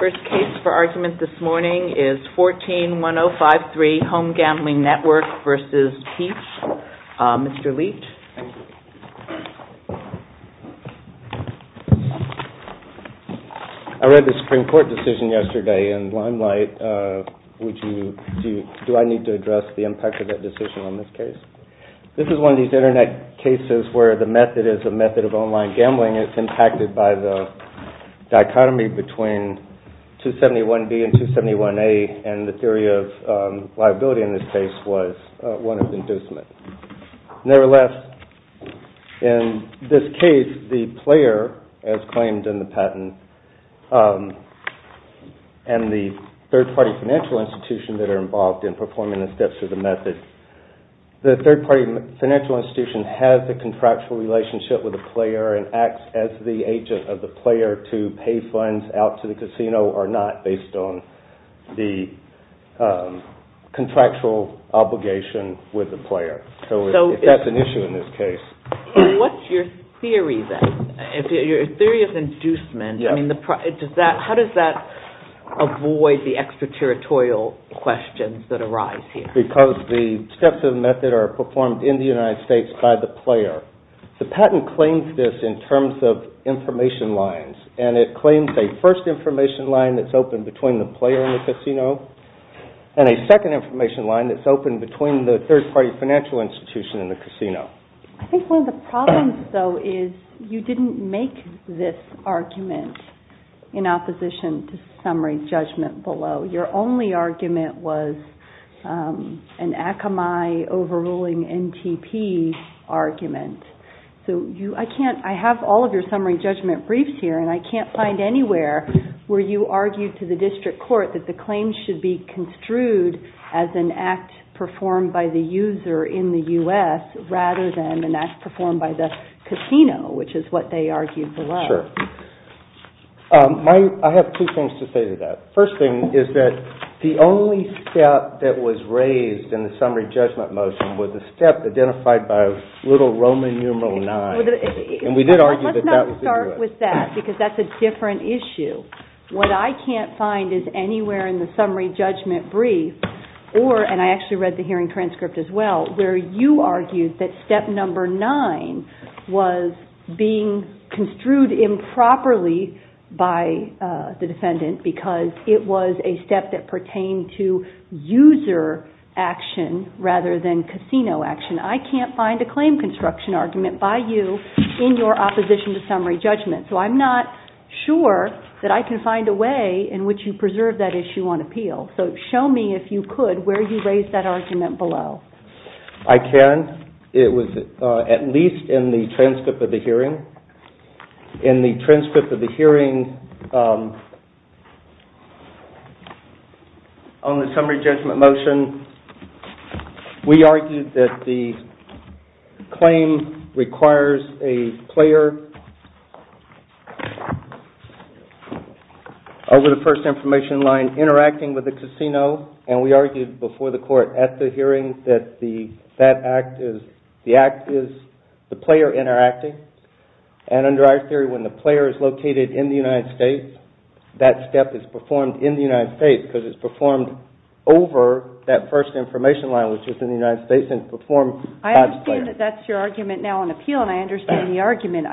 First case for argument this morning is 14-1053, Home Gambling Network v. Piche. Mr. Leach. I read the Supreme Court decision yesterday in Limelight. Do I need to address the impact of that decision on this case? This is one of these Internet cases where the method is a method of online gambling. It's impacted by the dichotomy between 271B and 271A, and the theory of liability in this case was one of inducement. Nevertheless, in this case, the player, as claimed in the patent, and the third-party financial institutions that are involved in performing the steps of the method, the third-party financial institution has a contractual relationship with the player and acts as the agent of the player to pay funds out to the casino or not, based on the contractual obligation with the player. So that's an issue in this case. And what's your theory then? Your theory of inducement, I mean, how does that avoid the extraterritorial questions that arise here? Because the steps of the method are performed in the United States by the player. The patent claims this in terms of information lines, and it claims a first information line that's open between the player and the casino, and a second information line that's open between the third-party financial institution and the casino. I think one of the problems, though, is you didn't make this argument in opposition to summary judgment below. Your only argument was an Akamai overruling NTP argument. So I have all of your summary judgment briefs here, and I can't find anywhere where you argued to the district court that the claims should be construed as an act performed by the user in the U.S. rather than an act performed by the casino, which is what they argued below. Sure. I have two things to say to that. First thing is that the only step that was raised in the summary judgment motion was a step identified by a little Roman numeral 9, and we did argue that that was the U.S. Let's not start with that, because that's a different issue. What I can't find is anywhere in the summary judgment brief, or, and I actually read the hearing transcript as well, where you argued that step number 9 was being construed improperly by the defendant because it was a step that pertained to user action rather than casino action. I can't find a claim construction argument by you in your opposition to summary judgment. So I'm not sure that I can find a way in which you preserve that issue on appeal. So show me, if you could, where you raised that argument below. I can. It was at least in the transcript of the hearing. In the transcript of the hearing on the summary judgment motion, we argued that the claim requires a player over the first information line interacting with the casino, and we argued before the court at the hearing that the act is the player interacting. And under our theory, when the player is located in the United States, that step is performed in the United States, because it's performed over that first information line, which is in the United States, and performed by the player. I understand that that's your argument now on appeal, and I understand the argument.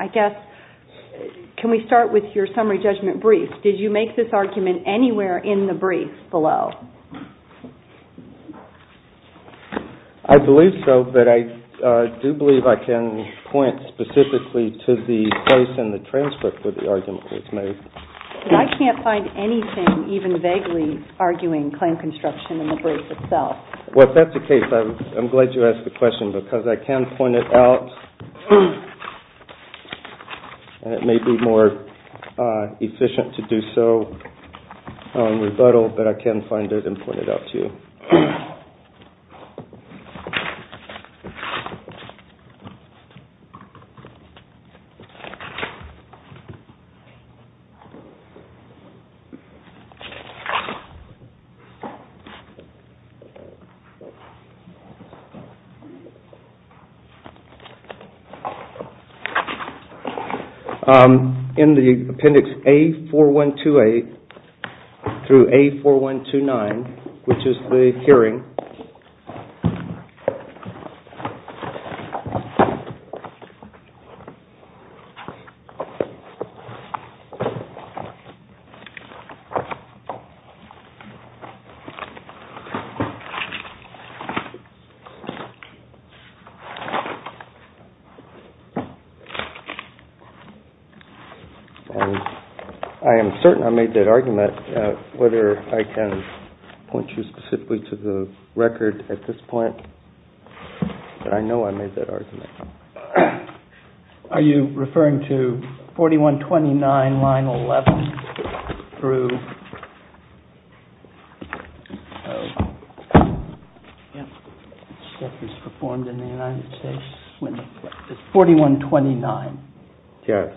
Can we start with your summary judgment brief? Did you make this argument anywhere in the brief below? I believe so, but I do believe I can point specifically to the place in the transcript where the argument was made. I can't find anything even vaguely arguing claim construction in the brief itself. Well, if that's the case, I'm glad you asked the question, because I can point it out, and it may be more efficient to do so on rebuttal, but I can find it and point it out to you. In the appendix A4128 through A4129, which is the hearing, I am certain I made that argument, whether I can point you specifically to the place in the transcript where the argument was made. I don't have a record at this point, but I know I made that argument. Are you referring to 4129, line 11? It's 4129. Yes.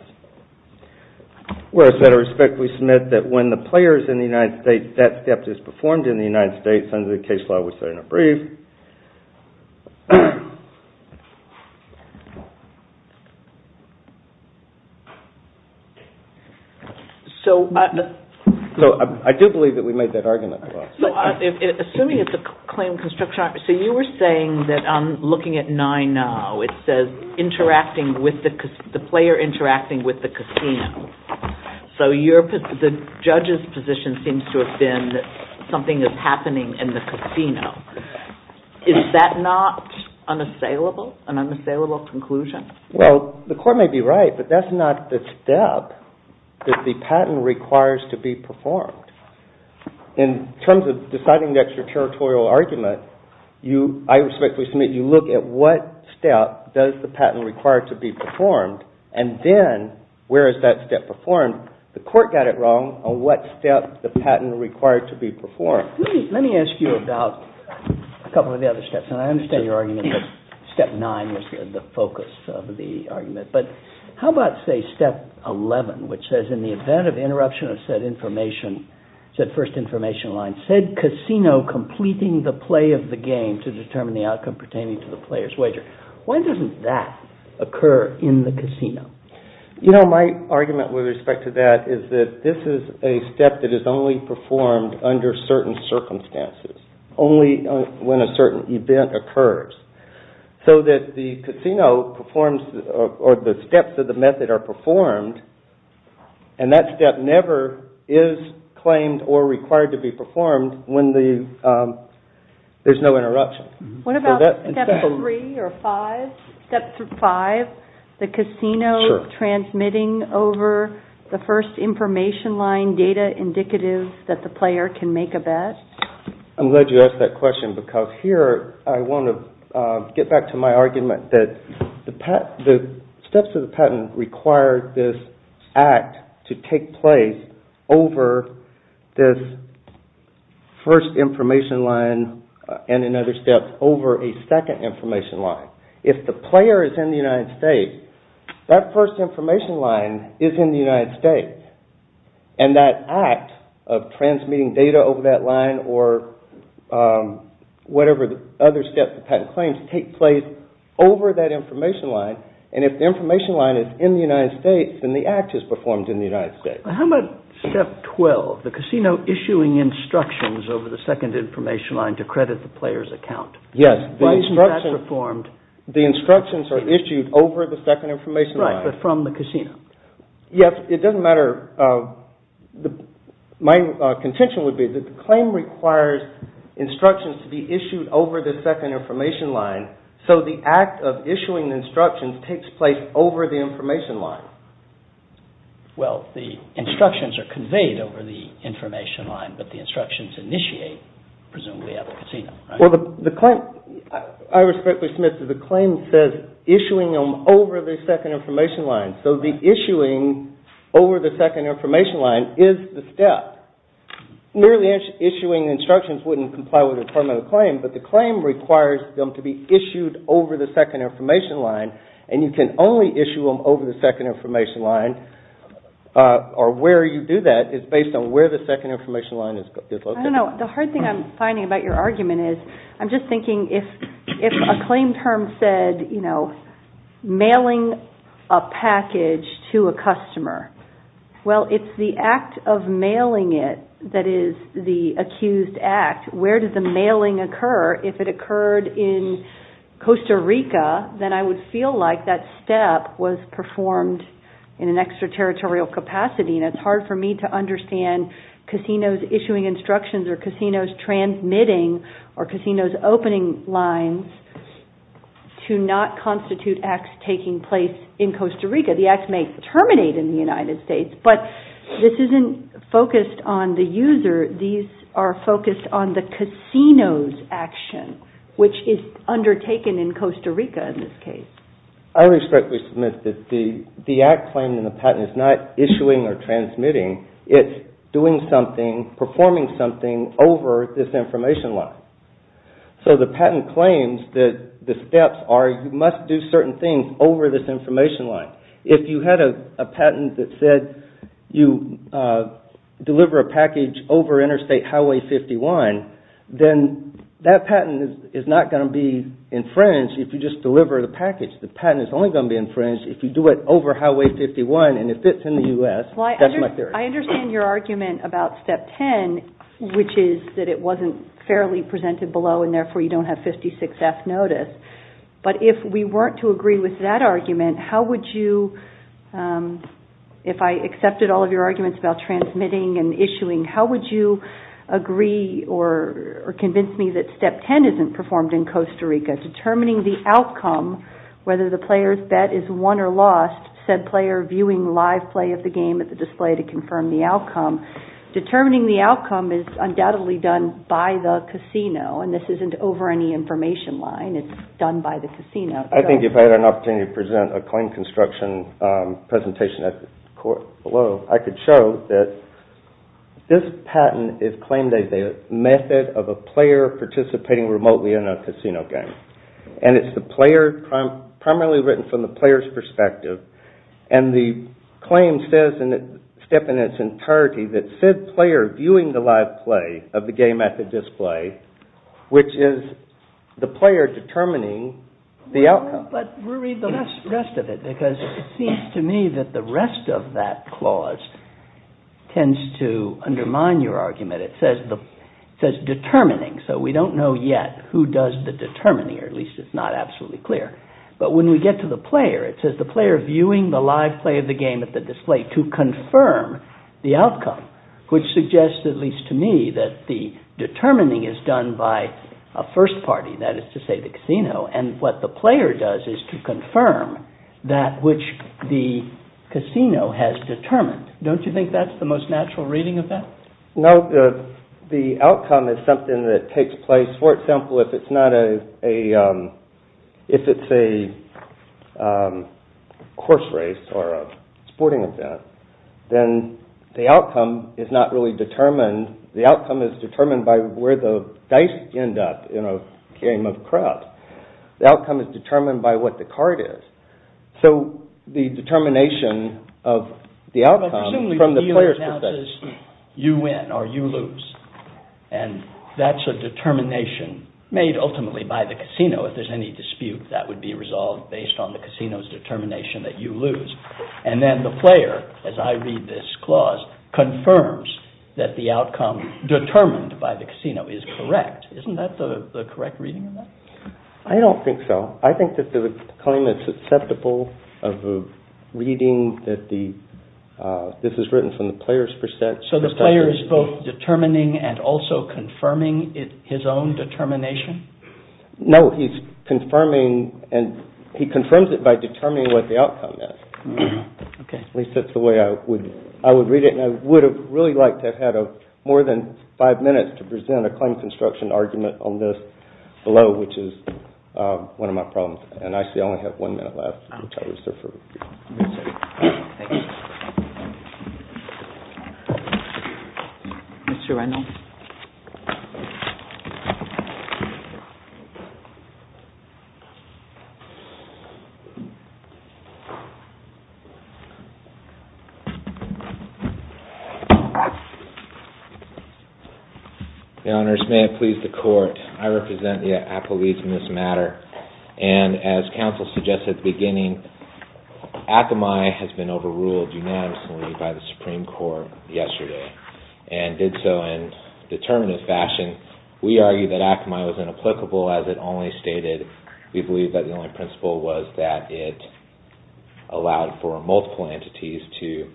So I do believe that we made that argument. Assuming it's a claim construction argument, so you were saying that looking at 9-0, it says the player interacting with the casino. So the judge's position seems to have been that something is happening in the casino. Is that not an unassailable conclusion? Well, the court may be right, but that's not the step that the patent requires to be performed. In terms of deciding the extraterritorial argument, I respectfully submit you look at what step does the patent require to be performed, and then where is that step performed. The court got it wrong on what step the patent required to be performed. Let me ask you about a couple of the other steps, and I understand your argument that step 9 was the focus of the argument, but how about, say, step 11, which says in the event of interruption of said information, said first information line, said casino completing the play of the game to determine the outcome pertaining to the player's wager. When doesn't that occur in the casino? You know, my argument with respect to that is that this is a step that is only performed under certain circumstances, only when a certain event occurs. So that the casino performs, or the steps of the method are performed, and that step never is claimed or required to be performed when there's no interruption. What about step 3 or 5, the casino transmitting over the first information line data indicative that the player can make a bet? I'm glad you asked that question, because here I want to get back to my argument that the steps of the patent require this act to take place over this first information line, and in other steps, over a second information line. If the player is in the United States, that first information line is in the United States, and that act of transmitting data over that line, or whatever other steps of patent claims, take place over that information line, and if the information line is in the United States, then the act is performed in the United States. How about step 12, the casino issuing instructions over the second information line to credit the player's account? Yes, the instructions are issued over the second information line. Yes, it doesn't matter. My contention would be that the claim requires instructions to be issued over the second information line, so the act of issuing instructions takes place over the information line. Well, the instructions are conveyed over the information line, but the instructions initiate, presumably, at the casino, right? Well, I respectfully submit that the claim says issuing them over the second information line, so the issuing over the second information line is the step. Merely issuing instructions wouldn't comply with a criminal claim, but the claim requires them to be issued over the second information line, and you can only issue them over the second information line, or where you do that is based on where the second information line is located. I don't know. The hard thing I'm finding about your argument is, I'm just thinking, if a claim term said, you know, mailing a package to a customer, well, it's the act of mailing it that is the accused act. Where does the mailing occur? If it occurred in Costa Rica, then I would feel like that step was performed in an extraterritorial capacity, and it's hard for me to understand casinos issuing instructions or casinos transmitting or casinos opening lines to not constitute acts taking place in Costa Rica. The act may terminate in the United States, but this isn't focused on the user. These are focused on the casino's action, which is undertaken in Costa Rica in this case. I respectfully submit that the act claimed in the patent is not issuing or transmitting, it's doing something, performing something over this information line. So the patent claims that the steps are, you must do certain things over this information line. If you had a patent that said you deliver a package over Interstate Highway 51, then that patent is not going to be infringed if you just deliver the package. The patent is only going to be infringed if you do it over Highway 51 and it fits in the U.S. I understand your argument about step 10, which is that it wasn't fairly presented below and therefore you don't have 56F notice. But if we weren't to agree with that argument, if I accepted all of your arguments about transmitting and issuing, how would you agree or convince me that step 10 isn't performed in Costa Rica? Determining the outcome, whether the player's bet is won or lost, said player viewing live play of the game at the display to confirm the outcome. Determining the outcome is undoubtedly done by the casino and this isn't over any information line. It's done by the casino. I think if I had an opportunity to present a claim construction presentation at the court below, I could show that this patent is claimed as a method of a player participating remotely in a casino game. And it's primarily written from the player's perspective. And the claim says in its entirety that said player viewing the live play of the game at the display, which is the player determining the outcome. But we'll read the rest of it because it seems to me that the rest of that clause tends to undermine your argument. It says determining, so we don't know yet who does the determining, or at least it's not absolutely clear. But when we get to the player, it says the player viewing the live play of the game at the display to confirm the outcome, which suggests, at least to me, that the determining is done by a first party, that is to say the casino. And what the player does is to confirm that which the casino has determined. Don't you think that's the most natural reading of that? No, the outcome is something that takes place. For example, if it's a course race or a sporting event, then the outcome is not really determined. The outcome is determined by where the dice end up in a game of craps. The outcome is determined by what the card is. But presumably the dealer announces you win or you lose, and that's a determination made ultimately by the casino. If there's any dispute, that would be resolved based on the casino's determination that you lose. And then the player, as I read this clause, confirms that the outcome determined by the casino is correct. Isn't that the correct reading of that? I don't think so. I think that the claim is acceptable of reading that this is written from the player's perspective. So the player is both determining and also confirming his own determination? No, he's confirming and he confirms it by determining what the outcome is. At least that's the way I would read it, and I would have really liked to have had more than five minutes to present a claim construction argument on this below, which is one of my problems. And I see I only have one minute left. Your Honor, may it please the Court, I represent the apologies in this matter. And as counsel suggested at the beginning, Akamai has been overruled unanimously by the Supreme Court yesterday, and did so in a determinative fashion. We argue that Akamai was inapplicable, as it only stated. We believe that the only principle was that it allowed for multiple entities to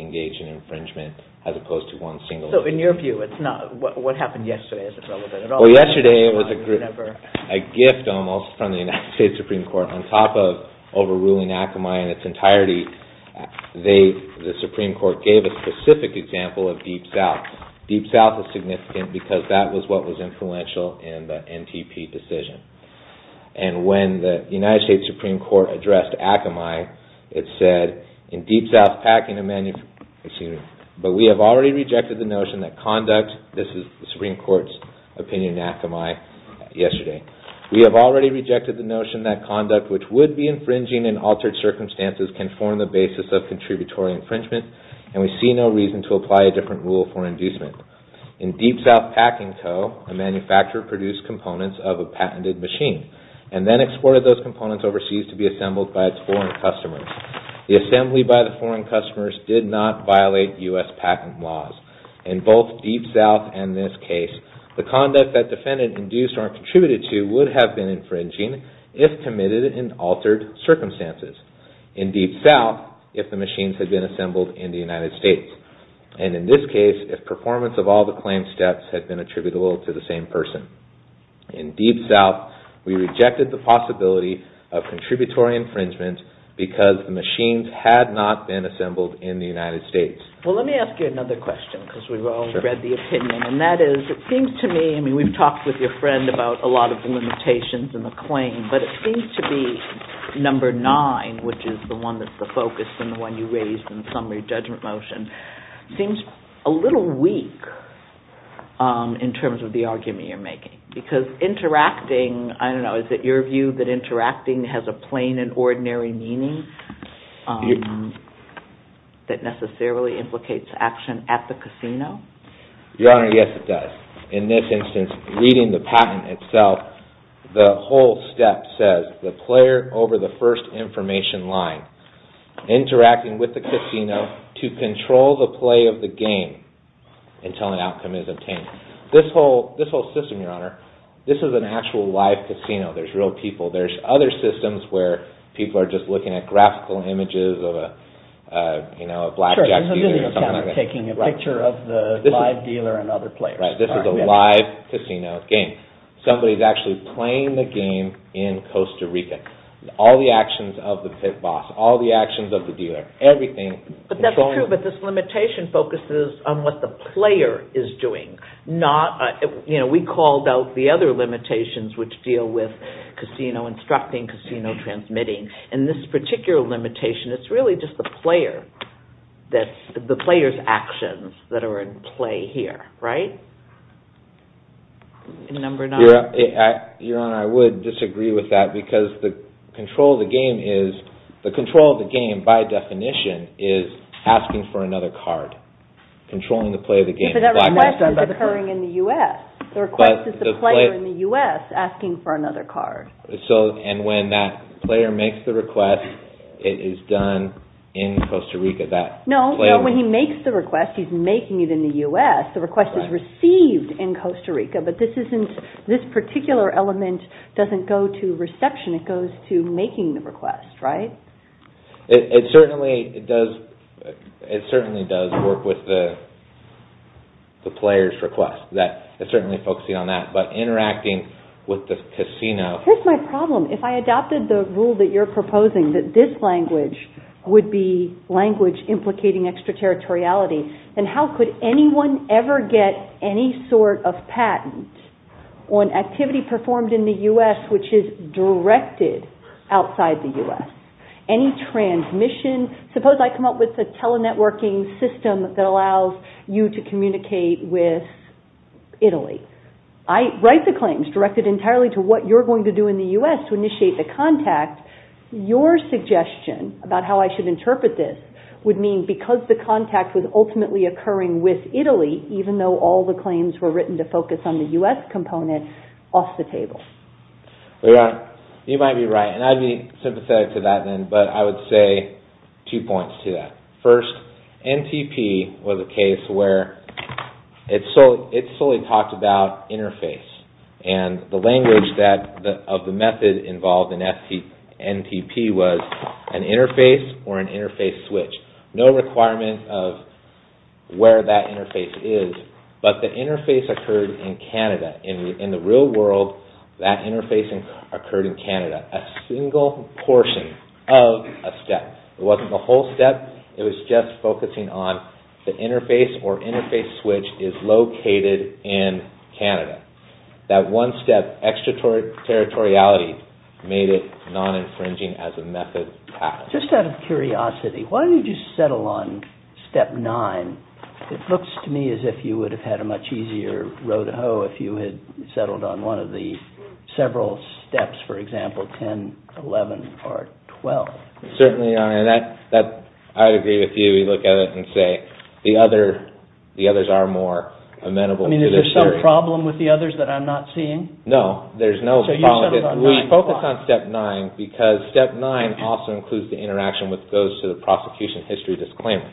engage in infringement, as opposed to one single entity. Well, yesterday it was a gift almost from the United States Supreme Court, on top of overruling Akamai in its entirety. The Supreme Court gave a specific example of Deep South. Deep South is significant because that was what was influential in the NTP decision. And when the United States Supreme Court addressed Akamai, it said, but we have already rejected the notion that conduct, this is the Supreme Court's opinion on Akamai yesterday, we have already rejected the notion that conduct which would be infringing in altered circumstances can form the basis of contributory infringement, and we see no reason to apply a different rule for inducement. In Deep South Packing Co., a manufacturer produced components of a patented machine and then exported those components overseas to be assembled by its foreign customers. The assembly by the foreign customers did not violate U.S. packing laws. In both Deep South and this case, the conduct that defendant induced or contributed to would have been infringing if committed in altered circumstances. In Deep South, if the machines had been assembled in the United States, and in this case, if performance of all the claim steps had been attributable to the same person. In Deep South, we rejected the possibility of contributory infringement because the machines had not been assembled in the United States. We've talked with your friend about a lot of the limitations in the claim, but it seems to be number nine, which is the one that's the focus and the one you raised in the summary judgment motion, seems a little weak in terms of the argument you're making. Because interacting, I don't know, is it your view that interacting has a plain and ordinary meaning that necessarily implicates action at the casino? Your Honor, yes it does. In this instance, reading the patent itself, the whole step says, the player over the first information line interacting with the casino to control the play of the game until an outcome is obtained. This whole system, Your Honor, this is an actual live casino. There's real people. There's other systems where people are just looking at graphical images of a black jacket. This is a video camera taking a picture of the live dealer and other players. This is a live casino game. Somebody's actually playing the game in Costa Rica. All the actions of the boss, all the actions of the dealer, everything. But this limitation focuses on what the player is doing. We called out the other limitations which deal with casino instructing, casino transmitting. In this particular limitation, it's really just the player's actions that are in play here. Your Honor, I would disagree with that because the control of the game, by definition, is asking for another card, controlling the play of the game. The request is occurring in the U.S. The request is the player in the U.S. asking for another card. And when that player makes the request, it is done in Costa Rica? No, when he makes the request, he's making it in the U.S. The request is received in Costa Rica. But this particular element doesn't go to reception. It goes to making the request, right? It certainly does work with the player's request. It's certainly focusing on that. But interacting with the casino... Here's my problem. If I adopted the rule that you're proposing, that this language would be language implicating extraterritoriality, then how could anyone ever get any sort of patent on activity performed in the U.S. which is directed outside the U.S.? Any transmission? Suppose I come up with a tele-networking system that allows you to communicate with Italy. I write the claims directed entirely to what you're going to do in the U.S. to initiate the contact. Your suggestion about how I should interpret this would mean because the contact was ultimately occurring with Italy, even though all the claims were written to focus on the U.S. component, off the table. You might be right. And I'd be sympathetic to that then. But I would say two points to that. First, NTP was a case where it solely talked about interface. And the language of the method involved in NTP was an interface or an interface switch. No requirement of where that interface is, but the interface occurred in Canada. In the real world, that interface occurred in Canada. A single portion of a step. It wasn't the whole step. It was just focusing on the interface or interface switch is located in Canada. That one step extraterritoriality made it non-infringing as a method path. Just out of curiosity, why don't you just settle on step nine? It looks to me as if you would have had a much easier row to hoe if you had settled on one of the several steps, for example, 10, 11, or 12. I agree with you. We look at it and say the others are more amenable. I mean, is there some problem with the others that I'm not seeing? No, there's no problem. We focus on step nine because step nine also includes the interaction with those to the prosecution history disclaimer.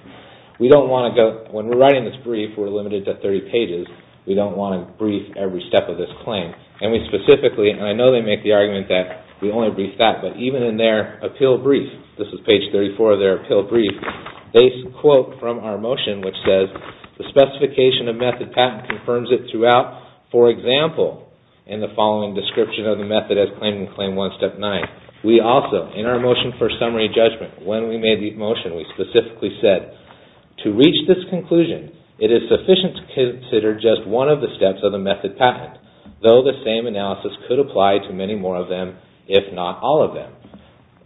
When we're writing this brief, we're limited to 30 pages. We don't want to brief every step of this claim. And I know they make the argument that we only brief that. But even in their appeal brief, this is page 34 of their appeal brief, they quote from our motion, which says, the specification of method patent confirms it throughout. For example, in the following description of the method as claimed in claim one, step nine. We also, in our motion for summary judgment, when we made the motion, we specifically said, to reach this conclusion, it is sufficient to consider just one of the steps of the method patent, though the same analysis could apply to many more of them, if not all of them.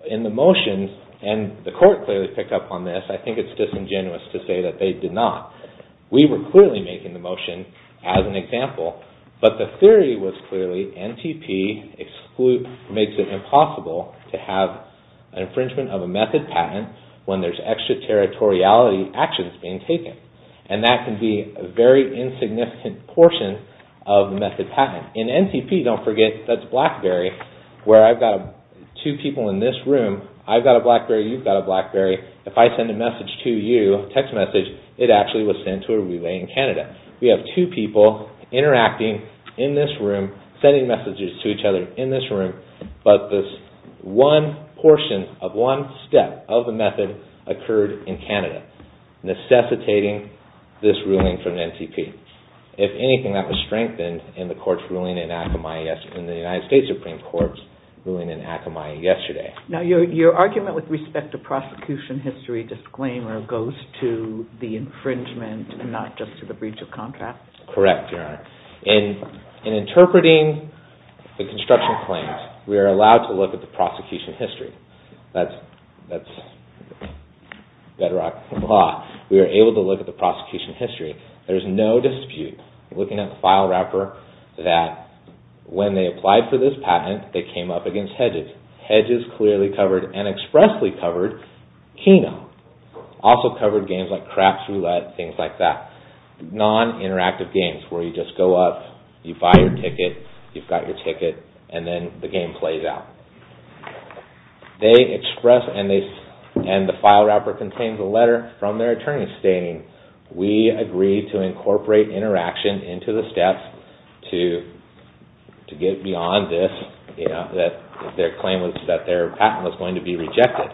In the motion, and the court clearly picked up on this, I think it's disingenuous to say that they did not. We were clearly making the motion as an example, but the theory was clearly NTP makes it impossible to have an infringement of a method patent when there's extraterritoriality actions being taken. And that can be a very insignificant portion of the method patent. In NTP, don't forget, that's BlackBerry, where I've got two people in this room. I've got a BlackBerry, you've got a BlackBerry. If I send a message to you, a text message, it actually was sent to a relay in Canada. We have two people interacting in this room, sending messages to each other in this room, but this one portion of one step of the method occurred in Canada, necessitating this ruling from NTP. If anything, that was strengthened in the United States Supreme Court's ruling in Akamai yesterday. Now, your argument with respect to prosecution history disclaimer goes to the infringement, not just to the breach of contract? Correct, Your Honor. In interpreting the construction claims, we are allowed to look at the prosecution history. That's bedrock of the law. We are able to look at the prosecution history. There's no dispute looking at the file wrapper that when they applied for this patent, they came up against hedges. Hedges clearly covered and expressly covered Keno. Also covered games like Craps Roulette, things like that. Non-interactive games where you just go up, you buy your ticket, you've got your ticket, and then the game plays out. They express and the file wrapper contains a letter from their attorney stating, we agree to incorporate interaction into the steps to get beyond this, that their claim was that their patent was going to be rejected.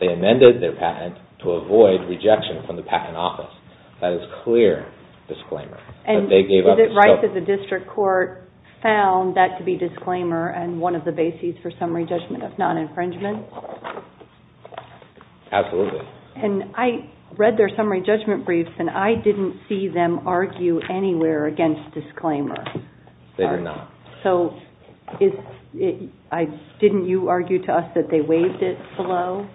They amended their patent to avoid rejection from the patent office. That is clear disclaimer. Is it right that the district court found that to be disclaimer and one of the bases for summary judgment of non-infringement? Absolutely. I read their summary judgment briefs and I didn't see them argue anywhere against disclaimer. They did not. Didn't you argue to us that they waived it below?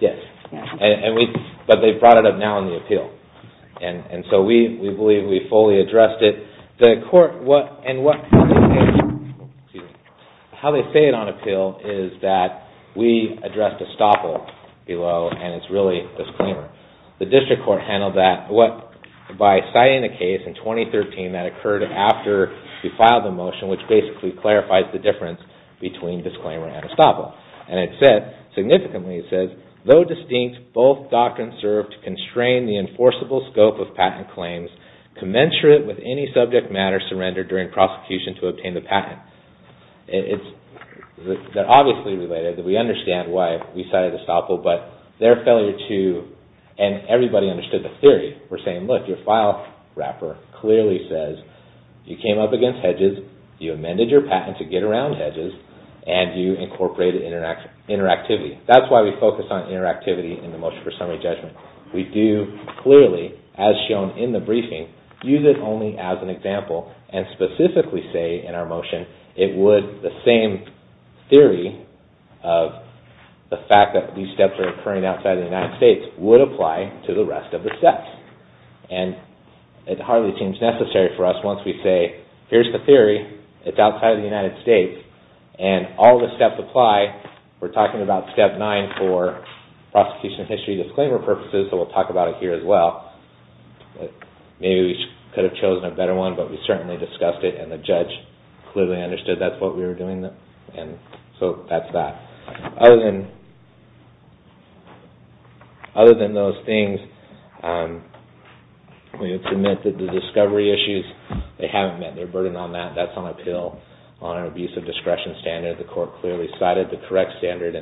Yes, but they brought it up now in the appeal. We believe we fully addressed it. How they say it on appeal is that we addressed estoppel below and it's really disclaimer. The district court handled that by citing a case in 2013 that occurred after we filed the motion, which basically clarifies the difference between disclaimer and estoppel. Significantly it says, though distinct, both doctrines serve to constrain the enforceable scope of patent claims commensurate with any subject matter surrendered during prosecution to obtain the patent. They are obviously related. We understand why we cited estoppel, but their failure to and everybody understood the theory. We are saying, look, your file wrapper clearly says you came up against hedges, you amended your patent to get around hedges, and you incorporated interactivity. That's why we focus on interactivity in the motion for summary judgment. We do clearly, as shown in the briefing, use it only as an example and specifically say in our motion, it would, the same theory of the fact that these steps are occurring outside of the United States, would apply to the rest of the steps. It hardly seems necessary for us once we say, here's the theory, it's outside of the United States, and all the steps apply. We're talking about step nine for prosecution of history disclaimer purposes, so we'll talk about it here as well. Maybe we could have chosen a better one, but we certainly discussed it, and the judge clearly understood that's what we were doing, so that's that. Other than those things, we would submit that the discovery issues, they haven't met their burden on that. That's on appeal on an abuse of discretion standard. The court clearly cited the correct standard.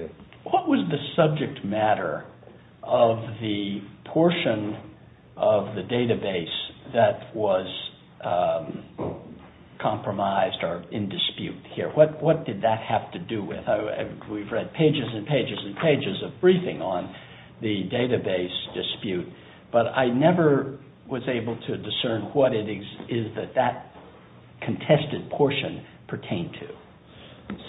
What was the subject matter of the portion of the database that was compromised or in dispute here? What did that have to do with? We've read pages and pages and pages of briefing on the database dispute, but I never was able to discern what it is that that contested portion pertained to.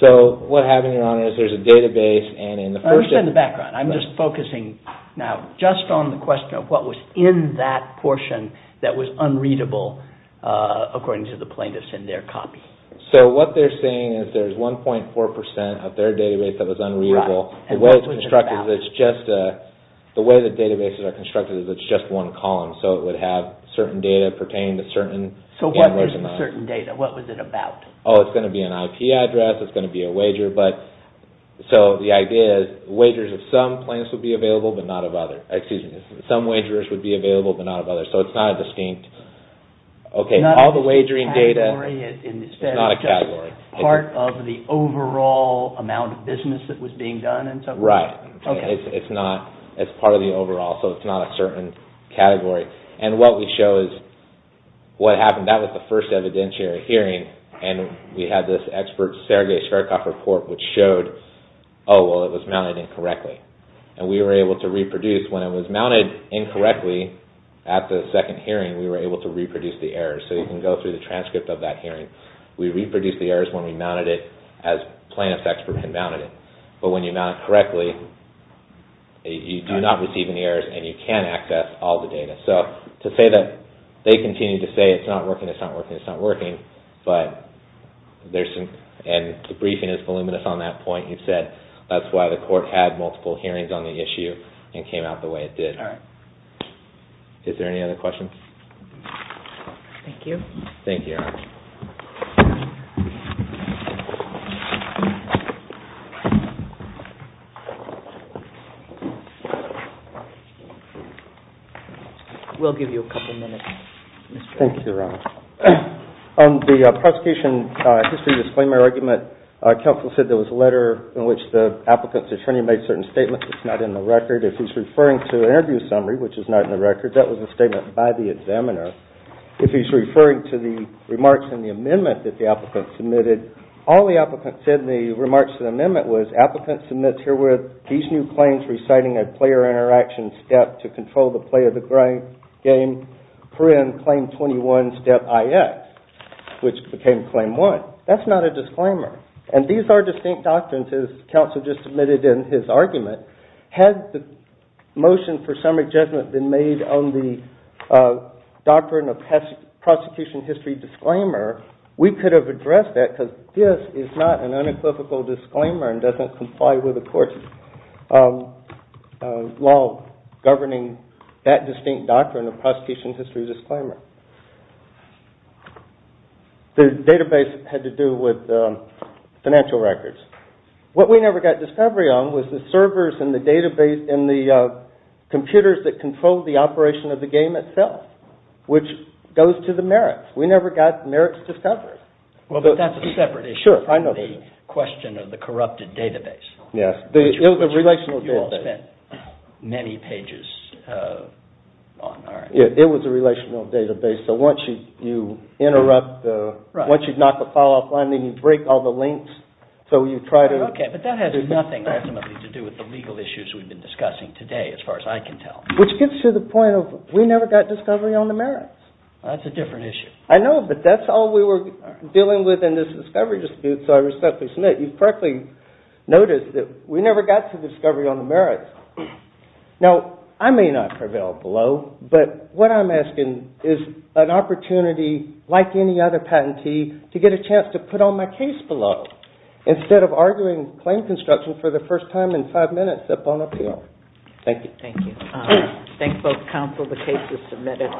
So what happened, Your Honor, is there's a database and in the first… I understand the background. I'm just focusing now just on the question of what was in that portion that was unreadable, according to the plaintiffs in their copy. So what they're saying is there's 1.4% of their database that was unreadable. The way the databases are constructed is it's just one column, so it would have certain data pertaining to certain… So what is certain data? What was it about? Oh, it's going to be an IP address. It's going to be a wager. So the idea is wagers of some plaintiffs would be available, but not of others. Excuse me. Some wagers would be available, but not of others. So it's not a distinct… It's not a category. It's just part of the overall amount of business that was being done and so forth? Right. Okay. It's part of the overall, so it's not a certain category. And what we show is what happened. That was the first evidentiary hearing, and we had this expert Sergei Shverdkov report which showed, oh, well, it was mounted incorrectly. And we were able to reproduce when it was mounted incorrectly at the second hearing, we were able to reproduce the errors. So you can go through the transcript of that hearing. We reproduced the errors when we mounted it as plaintiffs' experts had mounted it. But when you mount it correctly, you do not receive any errors and you can access all the data. So to say that they continue to say it's not working, it's not working, it's not working, but there's some… and the briefing is voluminous on that point. You've said that's why the court had multiple hearings on the issue and came out the way it did. All right. Is there any other questions? Thank you. Thank you, Your Honor. We'll give you a couple minutes. Thank you, Your Honor. On the prosecution history disclaimer argument, counsel said there was a letter in which the applicant's attorney made certain statements. It's not in the record. If he's referring to an interview summary, which is not in the record, that was a statement by the examiner. If he's referring to the remarks in the amendment that the applicant submitted, all the applicant said in the remarks in the amendment was, applicant submits herewith these new claims reciting a player interaction step to control the play of the game, print claim 21, step IX, which became claim 1. That's not a disclaimer. And these are distinct documents as counsel just submitted in his argument. Had the motion for summary judgment been made on the doctrine of prosecution history disclaimer, we could have addressed that because this is not an unequivocal disclaimer and doesn't comply with the court's law governing that distinct doctrine of prosecution history disclaimer. The database had to do with financial records. What we never got discovery on was the servers and the database and the computers that control the operation of the game itself, which goes to the merits. We never got merits discovery. Well, but that's a separate issue from the question of the corrupted database. Yes. Which you all spent many pages on. It was a relational database. So once you interrupt, once you knock the file offline, then you break all the links. So you try to... Okay, but that has nothing ultimately to do with the legal issues we've been discussing today as far as I can tell. Which gets to the point of we never got discovery on the merits. That's a different issue. I know, but that's all we were dealing with in this discovery dispute. So I respectfully submit you correctly noticed that we never got to discovery on the merits. Now, I may not prevail below, but what I'm asking is an opportunity like any other patentee to get a chance to put on my case below instead of arguing claim construction for the first time in five minutes up on appeal. Thank you. Thank you. Thank both counsel. The case is submitted.